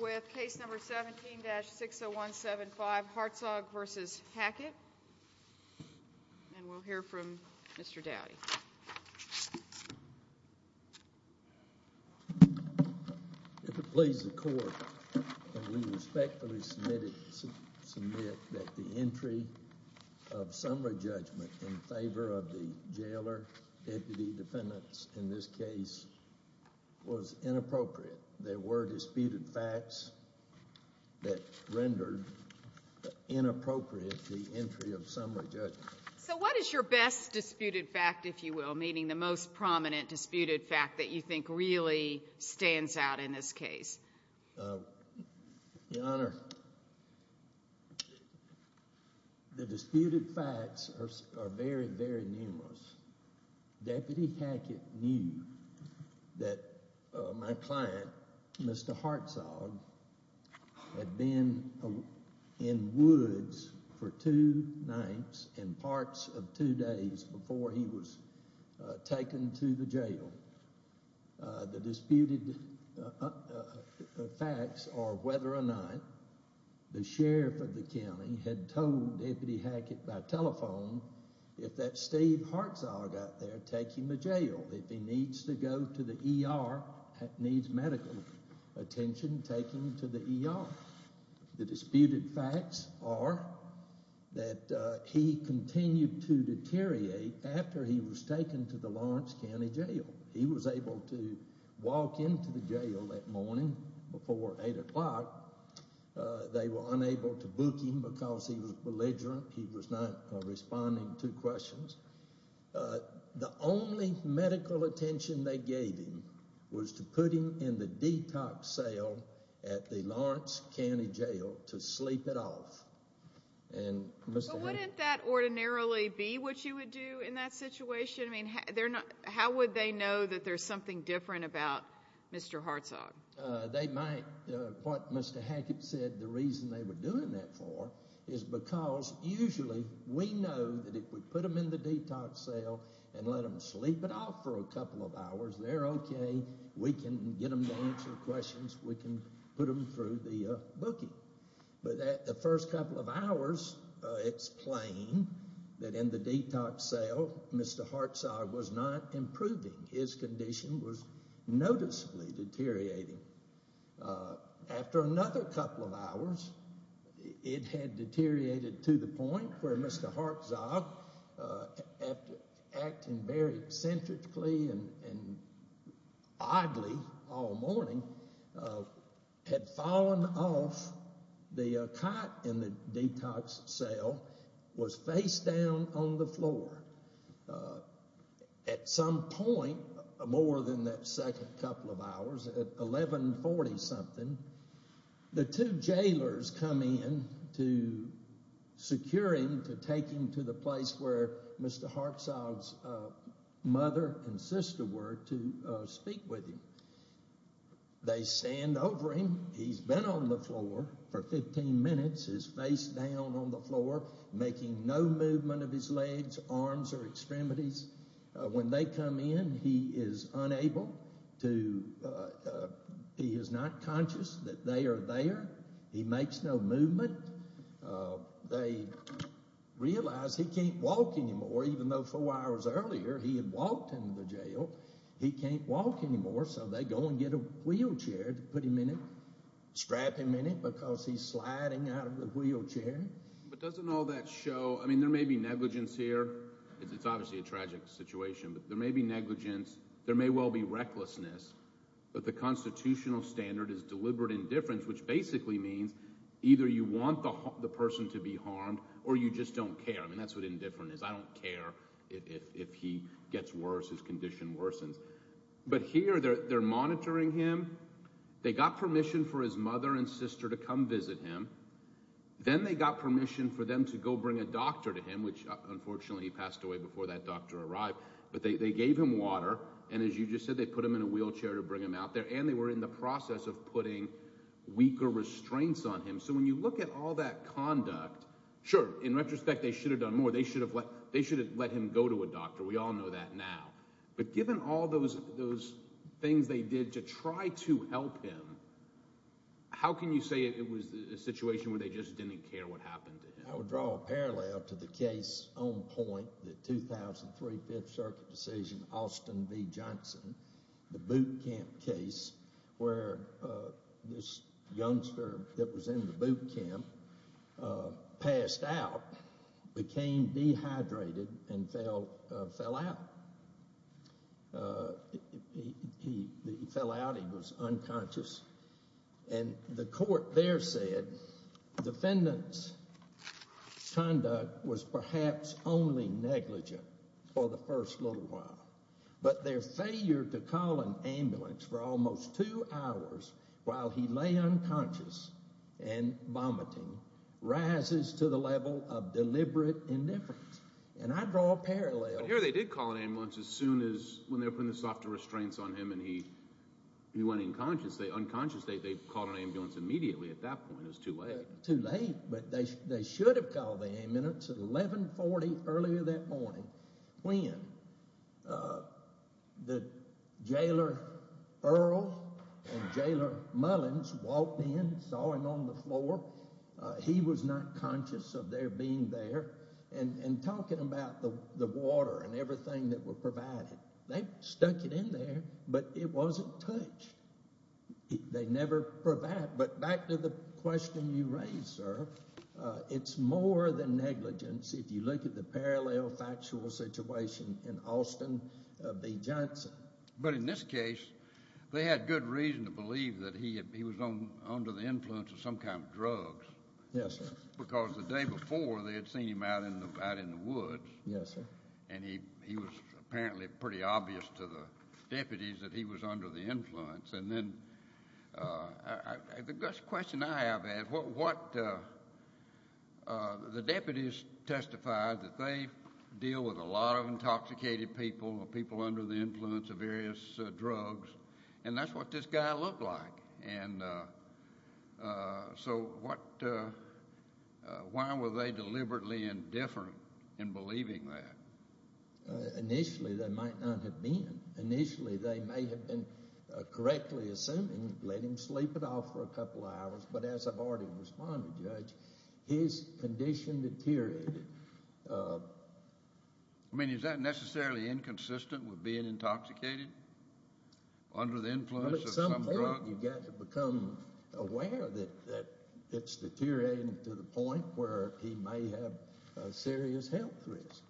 with case number 17-60175, Hartzog v. Hackett, and we'll hear from Mr. Doughty. If it pleases the court, we respectfully submit that the entry of summary judgment in favor of the jailer, the defendant in this case, was inappropriate. There were disputed facts that rendered inappropriate the entry of summary judgment. So what is your best disputed fact, if you will, meaning the most prominent disputed fact that you think really stands out in this case? Your Honor, the disputed facts are very, very numerous. Deputy Hackett knew that my client, Mr. Hartzog, had been in woods for two nights and parts of two days before he was taken to the jail. The disputed facts are whether or not the sheriff of the county had told Deputy Hackett by telephone if that Steve Hartzog out there take him to jail. If he needs to go to the ER, needs medical attention, take him to the ER. The disputed facts are that he continued to deteriorate after he was taken to the Lawrence County Jail. He was able to walk into the jail that morning before 8 o'clock. They were unable to book him because he was belligerent. He was not responding to questions. The only medical attention they gave him was to put him in the detox cell at the Lawrence County Jail to sleep it off. Wouldn't that ordinarily be what you would do in that situation? I mean, how would they know that there's something different about Mr. Hartzog? What Mr. Hackett said the reason they were doing that for is because usually we know that if we put him in the detox cell and let him sleep it off for a couple of hours, they're okay. We can get them to answer questions. We can put them through the booking. But the first couple of hours explain that in the detox cell, Mr. Hartzog was not improving. His condition was noticeably deteriorating. After another couple of hours, it had deteriorated to the point where Mr. Hartzog, after acting very eccentrically and oddly all morning, had fallen off the cot in the detox cell, was face down on the floor. At some point, more than that second couple of hours, at 1140-something, the two jailers come in to secure him, to take him to the place where Mr. Hartzog's mother and sister were to speak with him. They stand over him. He's been on the floor for 15 minutes. He's face down on the floor, making no movement of his legs, arms, or extremities. When they come in, he is unable to—he is not conscious that they are there. He makes no movement. They realize he can't walk anymore, even though four hours earlier he had walked into the jail. He can't walk anymore, so they go and get a wheelchair to put him in it, strap him in it because he's sliding out of the wheelchair. But doesn't all that show—I mean, there may be negligence here. It's obviously a tragic situation, but there may be negligence. There may well be recklessness, but the constitutional standard is deliberate indifference, which basically means either you want the person to be harmed or you just don't care. I mean, that's what indifference is. I don't care if he gets worse, his condition worsens. But here they're monitoring him. They got permission for his mother and sister to come visit him. Then they got permission for them to go bring a doctor to him, which unfortunately he passed away before that doctor arrived. But they gave him water, and as you just said, they put him in a wheelchair to bring him out there, and they were in the process of putting weaker restraints on him. So when you look at all that conduct, sure, in retrospect they should have done more. They should have let him go to a doctor. We all know that now. But given all those things they did to try to help him, how can you say it was a situation where they just didn't care what happened to him? I would draw a parallel to the case on point, the 2003 Fifth Circuit decision, Austin v. Johnson, the boot camp case where this youngster that was in the boot camp passed out, became dehydrated, and fell out. He fell out. He was unconscious. And the court there said the defendant's conduct was perhaps only negligent for the first little while. But their failure to call an ambulance for almost two hours while he lay unconscious and vomiting rises to the level of deliberate indifference. And I draw a parallel. But here they did call an ambulance as soon as when they were putting the softer restraints on him and he went unconscious. They unconsciously called an ambulance immediately at that point. It was too late. Too late. But they should have called the ambulance at 11.40 earlier that morning. When the jailer Earl and jailer Mullins walked in, saw him on the floor. He was not conscious of their being there. And talking about the water and everything that was provided, they stuck it in there, but it wasn't touched. They never provided. But back to the question you raised, sir. It's more than negligence if you look at the parallel factual situation in Austin v. Johnson. But in this case, they had good reason to believe that he was under the influence of some kind of drugs. Yes, sir. Because the day before they had seen him out in the woods. Yes, sir. And he was apparently pretty obvious to the deputies that he was under the influence. And then the question I have is what the deputies testified that they deal with a lot of intoxicated people, people under the influence of various drugs, and that's what this guy looked like. And so why were they deliberately indifferent in believing that? Initially, they might not have been. Initially, they may have been correctly assuming, let him sleep it off for a couple hours. But as I've already responded, Judge, his condition deteriorated. I mean, is that necessarily inconsistent with being intoxicated under the influence of some drug? Well, at some point you've got to become aware that it's deteriorating to the point where he may have a serious health risk.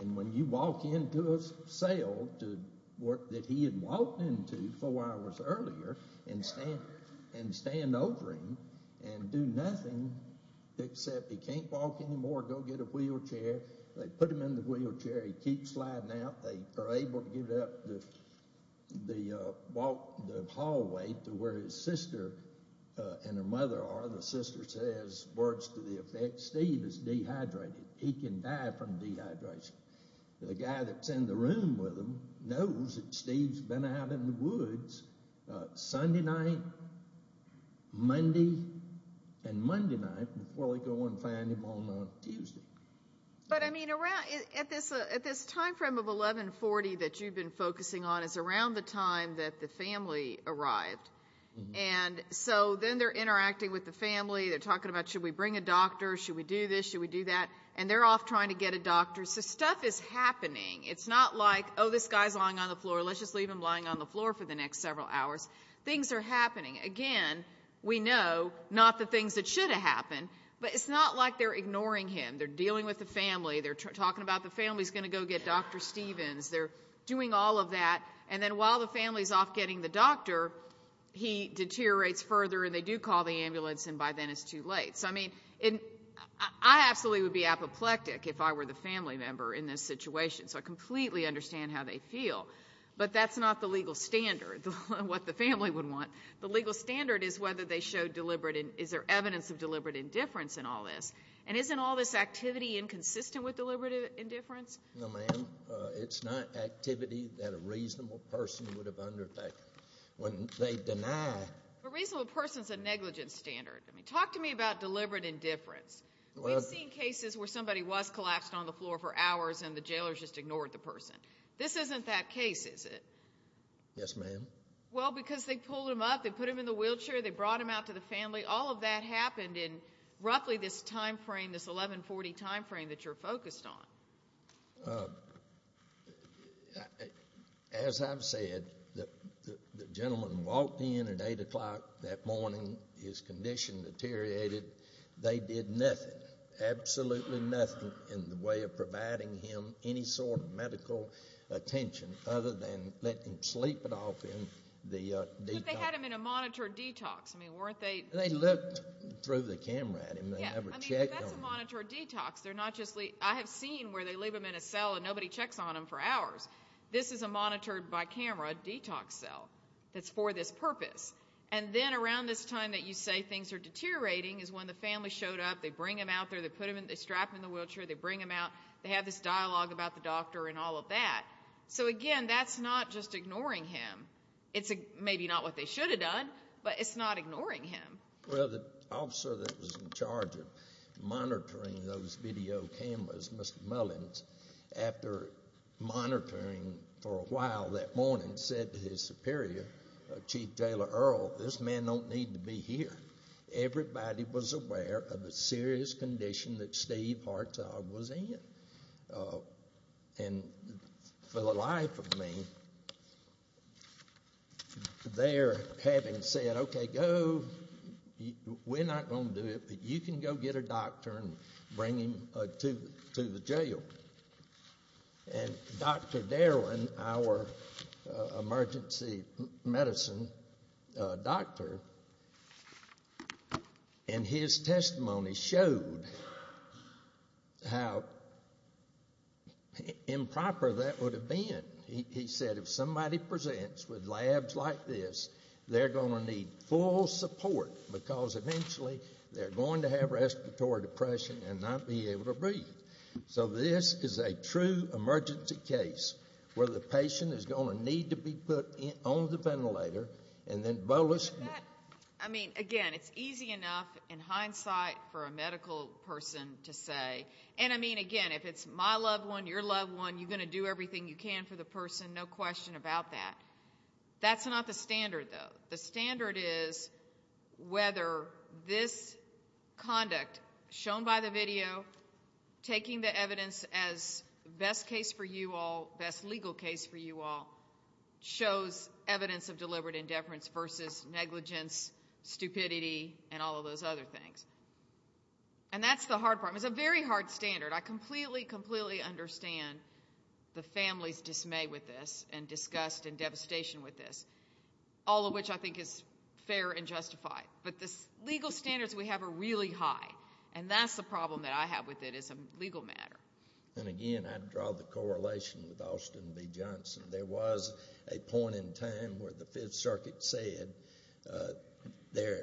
And when you walk into a cell that he had walked into four hours earlier and stand over him and do nothing except he can't walk anymore, go get a wheelchair, they put him in the wheelchair, he keeps sliding out, they are able to give up the hallway to where his sister and her mother are. The sister says words to the effect, Steve is dehydrated. He can die from dehydration. The guy that's in the room with him knows that Steve's been out in the woods Sunday night, Monday, and Monday night before they go and find him on Tuesday. But, I mean, at this time frame of 1140 that you've been focusing on, it's around the time that the family arrived. And so then they're interacting with the family. They're talking about, should we bring a doctor? Should we do this? Should we do that? And they're off trying to get a doctor. So stuff is happening. It's not like, oh, this guy's lying on the floor. Let's just leave him lying on the floor for the next several hours. Things are happening. Again, we know, not the things that should have happened, but it's not like they're ignoring him. They're dealing with the family. They're talking about the family's going to go get Dr. Stevens. They're doing all of that. And then while the family's off getting the doctor, he deteriorates further, and they do call the ambulance, and by then it's too late. So, I mean, I absolutely would be apoplectic if I were the family member in this situation. So I completely understand how they feel. But that's not the legal standard, what the family would want. The legal standard is whether they show deliberate, is there evidence of deliberate indifference in all this. And isn't all this activity inconsistent with deliberate indifference? No, ma'am. It's not activity that a reasonable person would have undertaken. When they deny. A reasonable person's a negligent standard. Talk to me about deliberate indifference. We've seen cases where somebody was collapsed on the floor for hours and the jailer just ignored the person. This isn't that case, is it? Yes, ma'am. Well, because they pulled him up, they put him in the wheelchair, they brought him out to the family. All of that happened in roughly this time frame, this 1140 time frame that you're focused on. As I've said, the gentleman walked in at 8 o'clock that morning, his condition deteriorated. They did nothing, absolutely nothing in the way of providing him any sort of medical attention other than let him sleep it off in the detox. But they had him in a monitored detox. They looked through the camera at him. That's a monitored detox. I have seen where they leave him in a cell and nobody checks on him for hours. This is a monitored by camera detox cell that's for this purpose. And then around this time that you say things are deteriorating is when the family showed up, they bring him out there, they strap him in the wheelchair, they bring him out, they have this dialogue about the doctor and all of that. So, again, that's not just ignoring him. It's maybe not what they should have done, but it's not ignoring him. Well, the officer that was in charge of monitoring those video cameras, Mr. Mullins, after monitoring for a while that morning said to his superior, Chief Taylor Earl, this man don't need to be here. Everybody was aware of the serious condition that Steve Hartog was in. And for the life of me, there having said, okay, go, we're not going to do it, but you can go get a doctor and bring him to the jail. And Dr. Derwin, our emergency medicine doctor, in his testimony, showed how improper that would have been. He said if somebody presents with labs like this, they're going to need full support because eventually they're going to have respiratory depression and not be able to breathe. So this is a true emergency case where the patient is going to need to be put on the ventilator and then bolstered. I mean, again, it's easy enough in hindsight for a medical person to say. And, I mean, again, if it's my loved one, your loved one, you're going to do everything you can for the person, no question about that. That's not the standard, though. The standard is whether this conduct, shown by the video, taking the evidence as best case for you all, best legal case for you all, shows evidence of deliberate indifference versus negligence, stupidity, and all of those other things. And that's the hard part. It's a very hard standard. I completely, completely understand the family's dismay with this and disgust and devastation with this, all of which I think is fair and justified. But the legal standards we have are really high, and that's the problem that I have with it as a legal matter. And, again, I'd draw the correlation with Austin v. Johnson. There was a point in time where the Fifth Circuit said their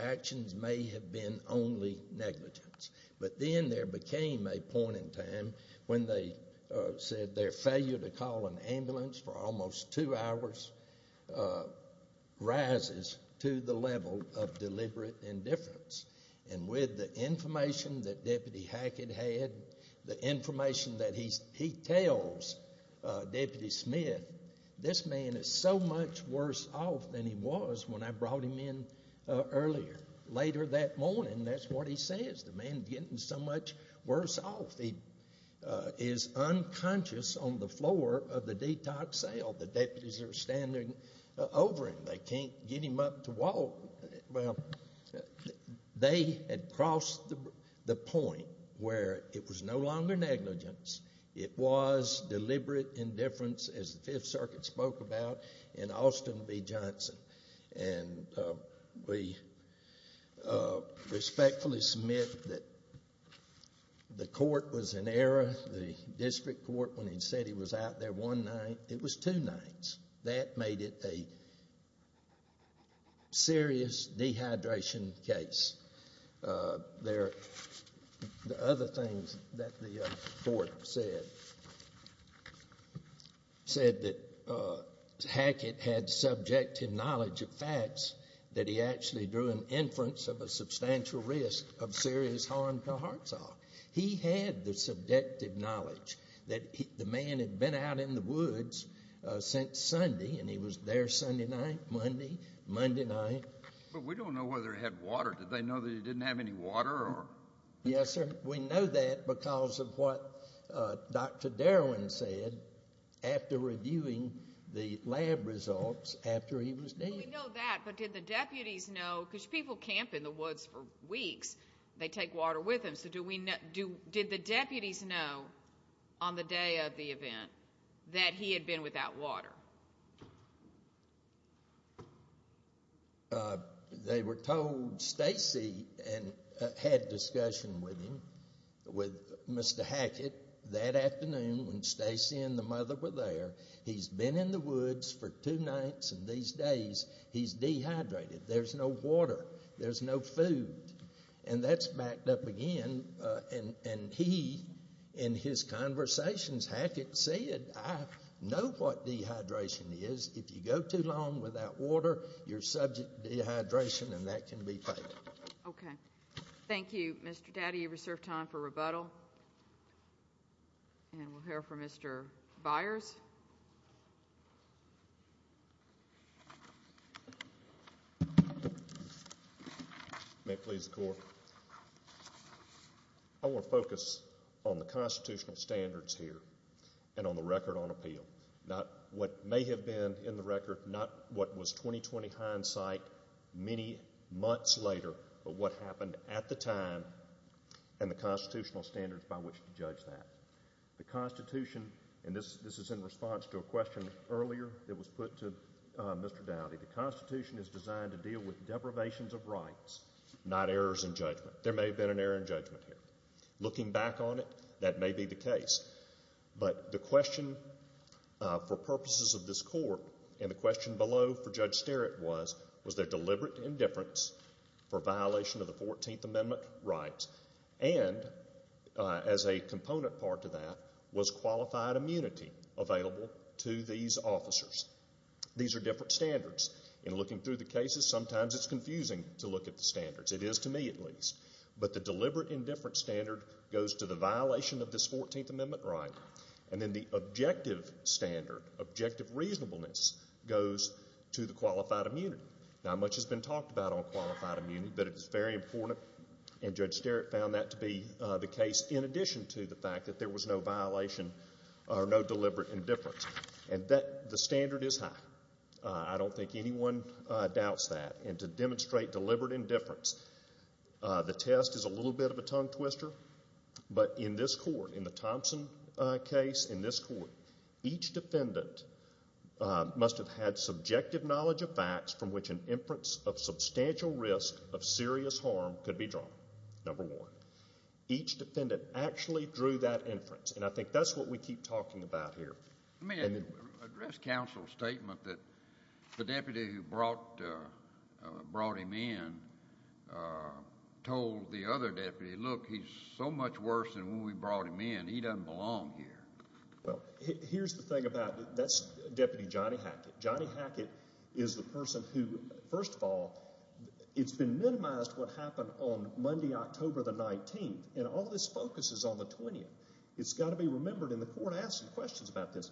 actions may have been only negligence. But then there became a point in time when they said their failure to call an ambulance for almost two hours rises to the level of deliberate indifference. And with the information that Deputy Hackett had, the information that he tells Deputy Smith, this man is so much worse off than he was when I brought him in earlier. Later that morning, that's what he says, the man's getting so much worse off. He is unconscious on the floor of the detox cell. The deputies are standing over him. They can't get him up to walk. Well, they had crossed the point where it was no longer negligence. It was deliberate indifference, as the Fifth Circuit spoke about, in Austin v. Johnson. And we respectfully submit that the court was in error. The district court, when he said he was out there one night, it was two nights. That made it a serious dehydration case. The other things that the court said, said that Hackett had subjective knowledge of facts, that he actually drew an inference of a substantial risk of serious harm to Hartzog. He had the subjective knowledge that the man had been out in the woods since Sunday, and he was there Sunday night, Monday, Monday night. But we don't know whether he had water. Did they know that he didn't have any water? Yes, sir. We know that because of what Dr. Derwin said after reviewing the lab results after he was named. We know that, but did the deputies know? Because people camp in the woods for weeks. They take water with them. Did the deputies know on the day of the event that he had been without water? They were told Stacy had a discussion with him, with Mr. Hackett, that afternoon, when Stacy and the mother were there. He's been in the woods for two nights, and these days he's dehydrated. There's no water. There's no food. And that's backed up again, and he, in his conversations, Hackett said, I know what dehydration is. If you go too long without water, you're subject to dehydration, and that can be fatal. Okay. Thank you, Mr. Dowdy. We reserve time for rebuttal, and we'll hear from Mr. Byers. Mr. Byers. May it please the Court. I want to focus on the constitutional standards here and on the record on appeal, not what may have been in the record, not what was 20-20 hindsight many months later, but what happened at the time and the constitutional standards by which to judge that. The Constitution, and this is in response to a question earlier that was put to Mr. Dowdy, the Constitution is designed to deal with deprivations of rights, not errors in judgment. There may have been an error in judgment here. Looking back on it, that may be the case. But the question for purposes of this Court and the question below for Judge Sterritt was, was there deliberate indifference for violation of the 14th Amendment rights? And as a component part to that was qualified immunity available to these officers. These are different standards. In looking through the cases, sometimes it's confusing to look at the standards. It is to me at least. But the deliberate indifference standard goes to the violation of this 14th Amendment right, and then the objective standard, objective reasonableness, goes to the qualified immunity. Not much has been talked about on qualified immunity, but it is very important, and Judge Sterritt found that to be the case in addition to the fact that there was no violation or no deliberate indifference. And the standard is high. I don't think anyone doubts that. And to demonstrate deliberate indifference, the test is a little bit of a tongue twister, but in this Court, in the Thompson case, in this Court, each defendant must have had subjective knowledge of facts from which an inference of substantial risk of serious harm could be drawn, number one. Each defendant actually drew that inference, and I think that's what we keep talking about here. May I address counsel's statement that the deputy who brought him in told the other deputy, look, he's so much worse than when we brought him in. He doesn't belong here. Well, here's the thing about it. That's Deputy Johnny Hackett. Johnny Hackett is the person who, first of all, it's been minimized what happened on Monday, October the 19th, and all this focus is on the 20th. It's got to be remembered, and the Court asked some questions about this.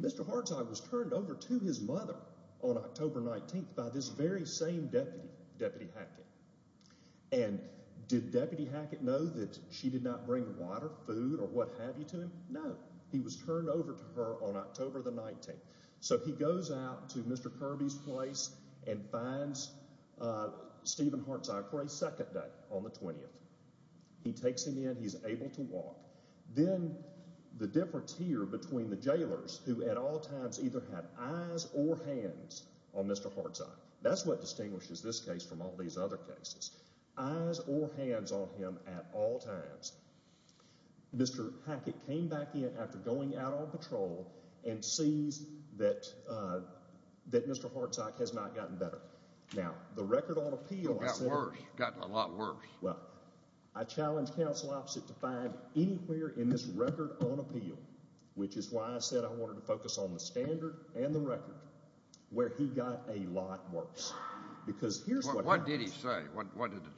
Mr. Hartzog was turned over to his mother on October 19th by this very same deputy, Deputy Hackett. And did Deputy Hackett know that she did not bring water, food, or what have you to him? No. He was turned over to her on October the 19th. So he goes out to Mr. Kirby's place and finds Stephen Hartzog for a second date on the 20th. He takes him in. He's able to walk. Then the difference here between the jailers, who at all times either had eyes or hands on Mr. Hartzog, that's what distinguishes this case from all these other cases, eyes or hands on him at all times. Mr. Hackett came back in after going out on patrol and sees that Mr. Hartzog has not gotten better. Now, the record on appeal, I said— It got worse. It got a lot worse. Well, I challenged counsel opposite to find anywhere in this record on appeal, which is why I said I wanted to focus on the standard and the record, where he got a lot worse. What did he say?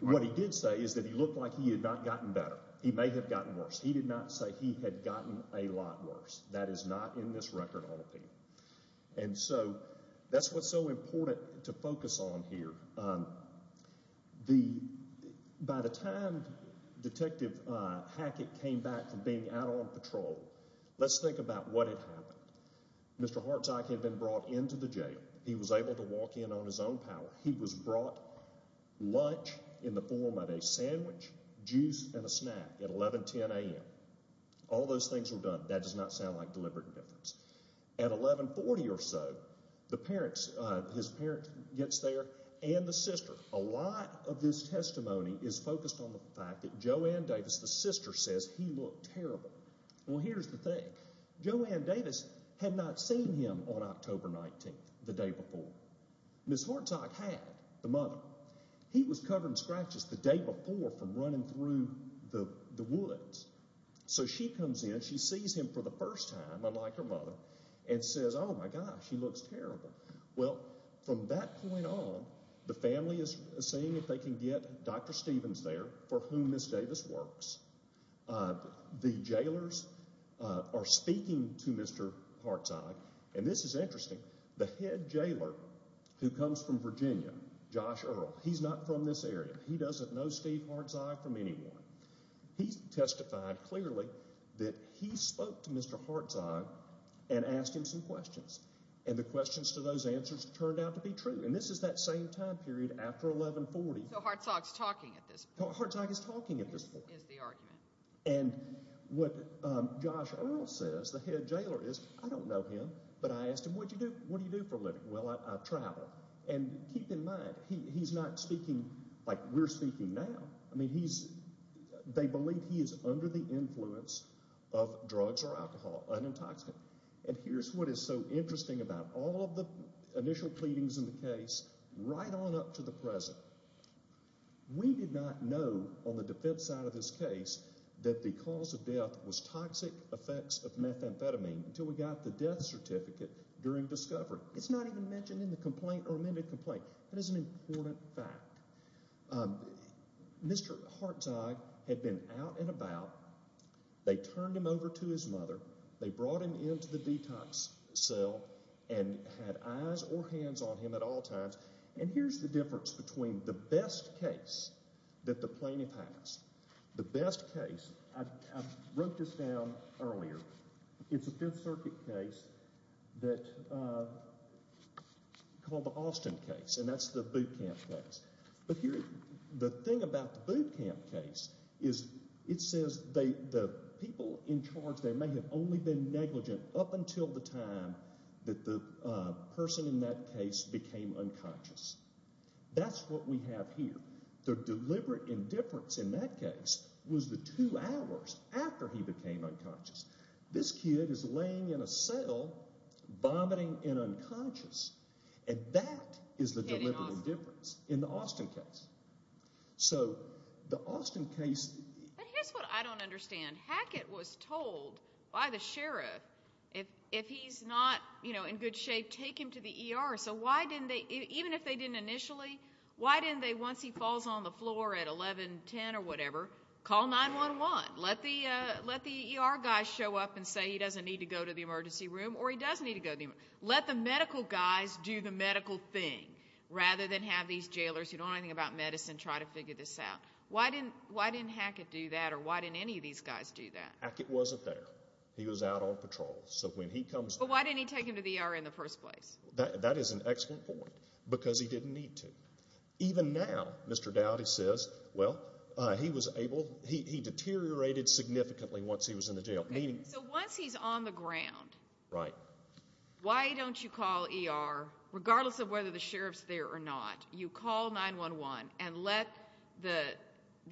What he did say is that he looked like he had not gotten better. He may have gotten worse. He did not say he had gotten a lot worse. That is not in this record on appeal. And so that's what's so important to focus on here. By the time Detective Hackett came back from being out on patrol, let's think about what had happened. Mr. Hartzog had been brought into the jail. He was able to walk in on his own power. He was brought lunch in the form of a sandwich, juice, and a snack at 1110 a.m. All those things were done. That does not sound like deliberate offense. At 1140 or so, his parent gets there and the sister. A lot of this testimony is focused on the fact that Joanne Davis, the sister, says he looked terrible. Well, here's the thing. Joanne Davis had not seen him on October 19th, the day before. Ms. Hartzog had, the mother. He was covered in scratches the day before from running through the woods. So she comes in. She sees him for the first time, unlike her mother, and says, oh, my gosh, he looks terrible. Well, from that point on, the family is seeing if they can get Dr. Stevens there, for whom Ms. Davis works. The jailers are speaking to Mr. Hartzog. And this is interesting. The head jailer who comes from Virginia, Josh Earl, he's not from this area. He doesn't know Steve Hartzog from anyone. He testified clearly that he spoke to Mr. Hartzog and asked him some questions. And the questions to those answers turned out to be true. And this is that same time period after 1140. So Hartzog's talking at this point. Hartzog is talking at this point. Is the argument. And what Josh Earl says, the head jailer, is I don't know him, but I asked him, what do you do? What do you do for a living? Well, I travel. And keep in mind, he's not speaking like we're speaking now. I mean, they believe he is under the influence of drugs or alcohol, unintoxicated. And here's what is so interesting about all of the initial pleadings in the case right on up to the present. We did not know on the defense side of this case that the cause of death was toxic effects of methamphetamine until we got the death certificate during discovery. It's not even mentioned in the complaint or amended complaint. That is an important fact. Mr. Hartzog had been out and about. They turned him over to his mother. They brought him into the detox cell and had eyes or hands on him at all times. And here's the difference between the best case that the plaintiff has, the best case. I wrote this down earlier. It's a Fifth Circuit case called the Austin case, and that's the boot camp case. But here, the thing about the boot camp case is it says the people in charge there may have only been negligent up until the time that the person in that case became unconscious. That's what we have here. The deliberate indifference in that case was the two hours after he became unconscious. This kid is laying in a cell vomiting and unconscious, and that is the deliberate indifference in the Austin case. So the Austin case— But here's what I don't understand. Hackett was told by the sheriff, if he's not in good shape, take him to the ER. So why didn't they, even if they didn't initially, why didn't they, once he falls on the floor at 11, 10 or whatever, call 911, let the ER guy show up and say he doesn't need to go to the emergency room, or he does need to go to the emergency room. Let the medical guys do the medical thing rather than have these jailers who don't know anything about medicine try to figure this out. Why didn't Hackett do that, or why didn't any of these guys do that? Hackett wasn't there. He was out on patrol. So when he comes— But why didn't he take him to the ER in the first place? That is an excellent point, because he didn't need to. Even now, Mr. Dowdy says, well, he was able—he deteriorated significantly once he was in the jail. So once he's on the ground, why don't you call ER, regardless of whether the sheriff's there or not, you call 911 and let the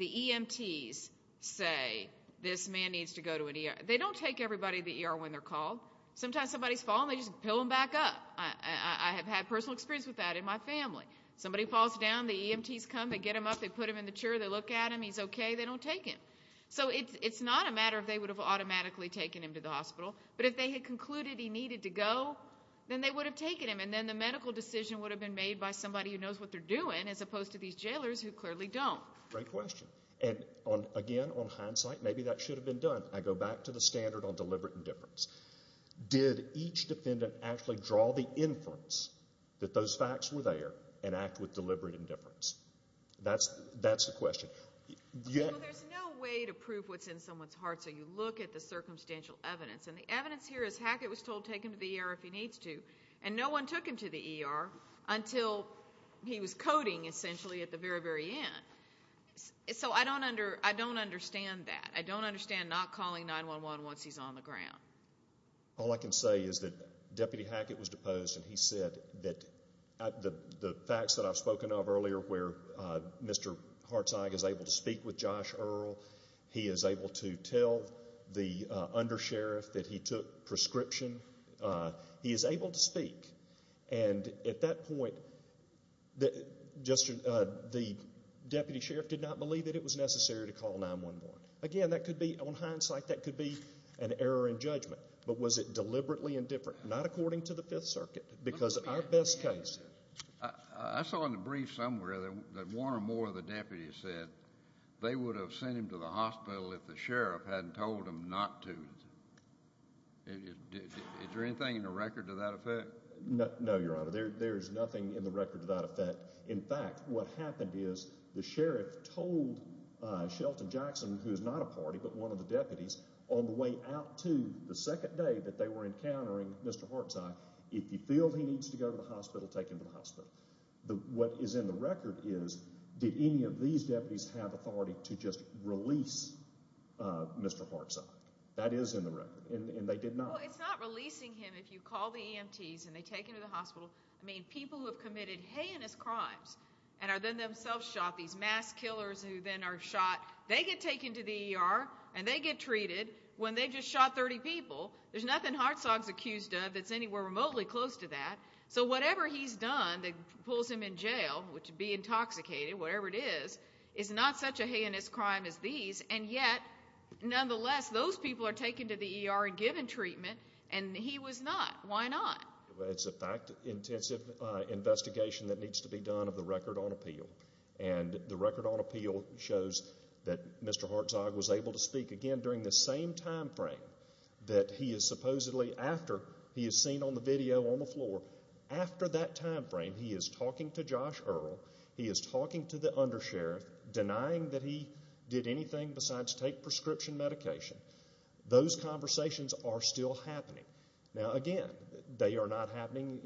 EMTs say this man needs to go to an ER. They don't take everybody to the ER when they're called. Sometimes somebody's falling, they just pull them back up. I have had personal experience with that in my family. Somebody falls down, the EMTs come, they get him up, they put him in the chair, they look at him, he's okay, they don't take him. So it's not a matter of they would have automatically taken him to the hospital, but if they had concluded he needed to go, then they would have taken him, and then the medical decision would have been made by somebody who knows what they're doing as opposed to these jailers who clearly don't. Great question. And, again, on hindsight, maybe that should have been done. I go back to the standard on deliberate indifference. Did each defendant actually draw the inference that those facts were there and act with deliberate indifference? That's the question. Well, there's no way to prove what's in someone's heart, so you look at the circumstantial evidence, and the evidence here is Hackett was told take him to the ER if he needs to, and no one took him to the ER until he was coding, essentially, at the very, very end. So I don't understand that. I don't understand not calling 911 once he's on the ground. All I can say is that Deputy Hackett was deposed, and he said that the facts that I've spoken of earlier where Mr. Hartzog is able to speak with Josh Earle, he is able to tell the undersheriff that he took prescription, he is able to speak. And at that point, the deputy sheriff did not believe that it was necessary to call 911. Again, that could be, on hindsight, that could be an error in judgment. But was it deliberately indifferent? Not according to the Fifth Circuit, because our best case. I saw in the brief somewhere that one or more of the deputies said they would have sent him to the hospital if the sheriff hadn't told him not to. Is there anything in the record to that effect? No, Your Honor. There is nothing in the record to that effect. In fact, what happened is the sheriff told Shelton Jackson, who is not a party but one of the deputies, on the way out to the second day that they were encountering Mr. Hartzog, if he feels he needs to go to the hospital, take him to the hospital. What is in the record is, did any of these deputies have authority to just release Mr. Hartzog? That is in the record, and they did not. Well, it's not releasing him if you call the EMTs and they take him to the hospital. I mean, people who have committed heinous crimes and are then themselves shot, these mass killers who then are shot, they get taken to the ER and they get treated when they've just shot 30 people. There's nothing Hartzog's accused of that's anywhere remotely close to that. So whatever he's done that pulls him in jail, which would be intoxicated, whatever it is, is not such a heinous crime as these. And yet, nonetheless, those people are taken to the ER and given treatment, and he was not. Why not? It's a fact-intensive investigation that needs to be done of the record on appeal. And the record on appeal shows that Mr. Hartzog was able to speak, again, during the same time frame that he is supposedly after he is seen on the video on the floor. After that time frame, he is talking to Josh Earle, he is talking to the undersheriff, denying that he did anything besides take prescription medication. Those conversations are still happening. Now, again, they are not happening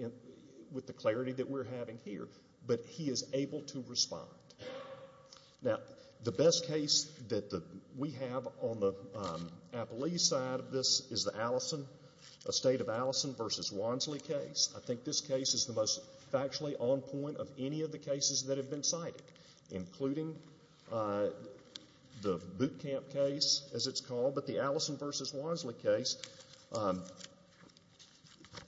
with the clarity that we're having here, but he is able to respond. Now, the best case that we have on the Appalachee side of this is the Allison, the state of Allison v. Wansley case. I think this case is the most factually on point of any of the cases that have been cited, including the boot camp case, as it's called, but the Allison v. Wansley case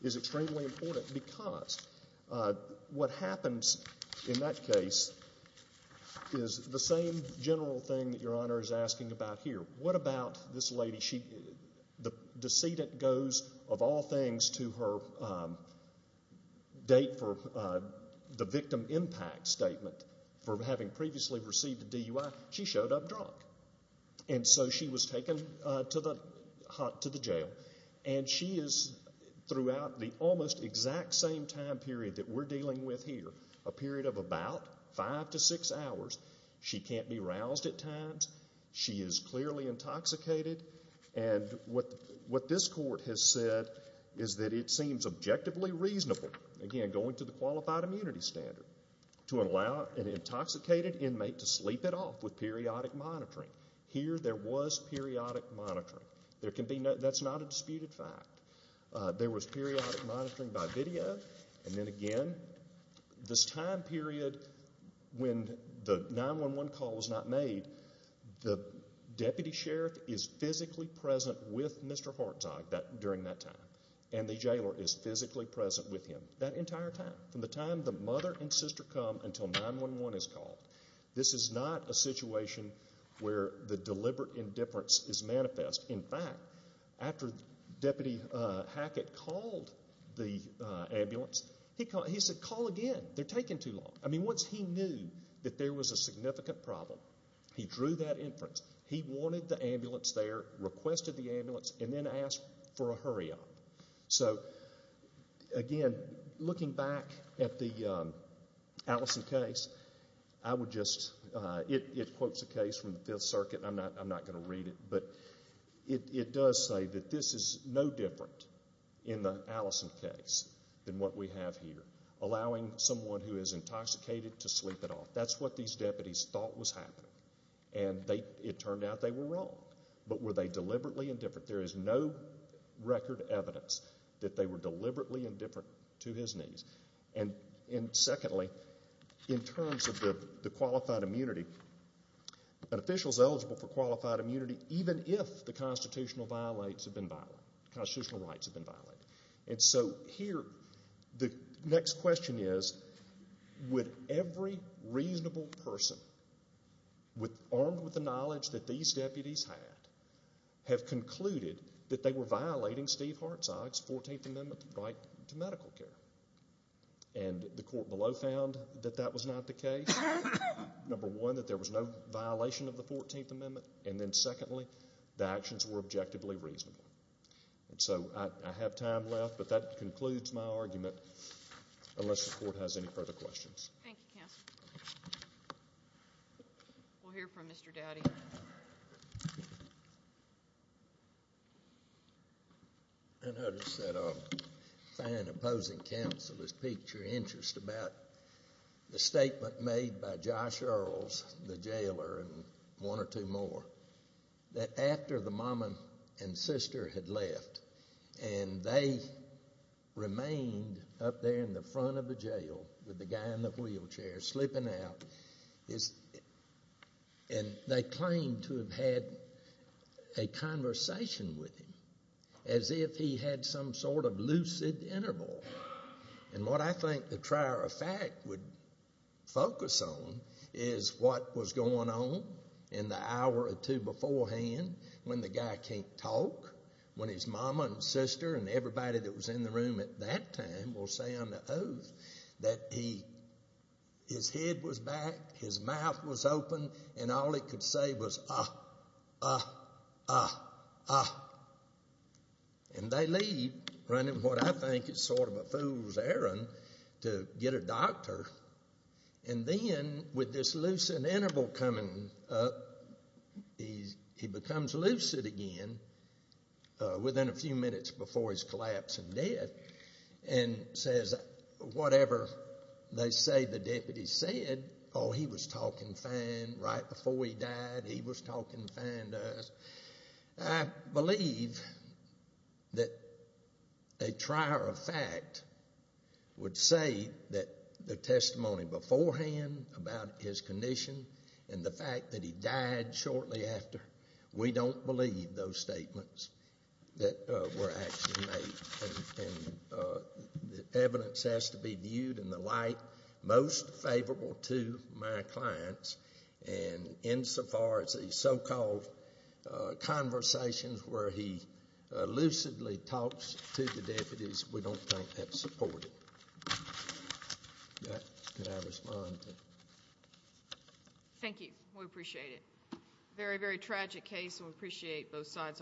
is extremely important because what happens in that case is the same general thing that Your Honor is asking about here. What about this lady? The decedent goes, of all things, to her date for the victim impact statement for having previously received a DUI. She showed up drunk, and so she was taken to the jail, and she is throughout the almost exact same time period that we're dealing with here, a period of about five to six hours. She can't be roused at times. She is clearly intoxicated, and what this court has said is that it seems objectively reasonable, again, going to the qualified immunity standard, to allow an intoxicated inmate to sleep it off with periodic monitoring. Here there was periodic monitoring. That's not a disputed fact. There was periodic monitoring by video, and then again, this time period when the 911 call was not made, the deputy sheriff is physically present with Mr. Hartzog during that time, and the jailer is physically present with him that entire time, from the time the mother and sister come until 911 is called. This is not a situation where the deliberate indifference is manifest. In fact, after Deputy Hackett called the ambulance, he said, call again. They're taking too long. I mean, once he knew that there was a significant problem, he drew that inference. He wanted the ambulance there, requested the ambulance, and then asked for a hurry up. So, again, looking back at the Allison case, I would just, it quotes a case from the Fifth Circuit. I'm not going to read it, but it does say that this is no different in the Allison case than what we have here, allowing someone who is intoxicated to sleep it off. That's what these deputies thought was happening, and it turned out they were wrong. But were they deliberately indifferent? There is no record evidence that they were deliberately indifferent to his needs. And secondly, in terms of the qualified immunity, an official is eligible for qualified immunity even if the constitutional rights have been violated. And so here, the next question is, would every reasonable person, armed with the knowledge that these deputies had, have concluded that they were violating Steve Hartzog's 14th Amendment right to medical care? And the court below found that that was not the case. Number one, that there was no violation of the 14th Amendment, and then secondly, the actions were objectively reasonable. And so I have time left, but that concludes my argument, unless the court has any further questions. Thank you, counsel. We'll hear from Mr. Dowdy. Thank you. I noticed that a fine opposing counsel has piqued your interest about the statement made by Josh Earls, the jailer, and one or two more, that after the mama and sister had left, and they remained up there in the front of the jail with the guy in the wheelchair slipping out, and they claimed to have had a conversation with him, as if he had some sort of lucid interval. And what I think the trier of fact would focus on is what was going on in the hour or two beforehand when the guy can't talk, when his mama and sister and everybody that was in the room at that time that his head was back, his mouth was open, and all he could say was, uh, uh, uh, uh. And they leave, running what I think is sort of a fool's errand to get a doctor. And then with this lucid interval coming up, he becomes lucid again within a few minutes before he's collapsed and dead. And says, whatever they say the deputy said, oh, he was talking fine right before he died. He was talking fine to us. I believe that a trier of fact would say that the testimony beforehand about his condition and the fact that he died shortly after, we don't believe those statements that were actually made. And the evidence has to be viewed in the light most favorable to my clients. And insofar as the so-called conversations where he lucidly talks to the deputies, we don't think that's supported. That's what I respond to. Thank you. We appreciate it. Very, very tragic case, and we appreciate both sides.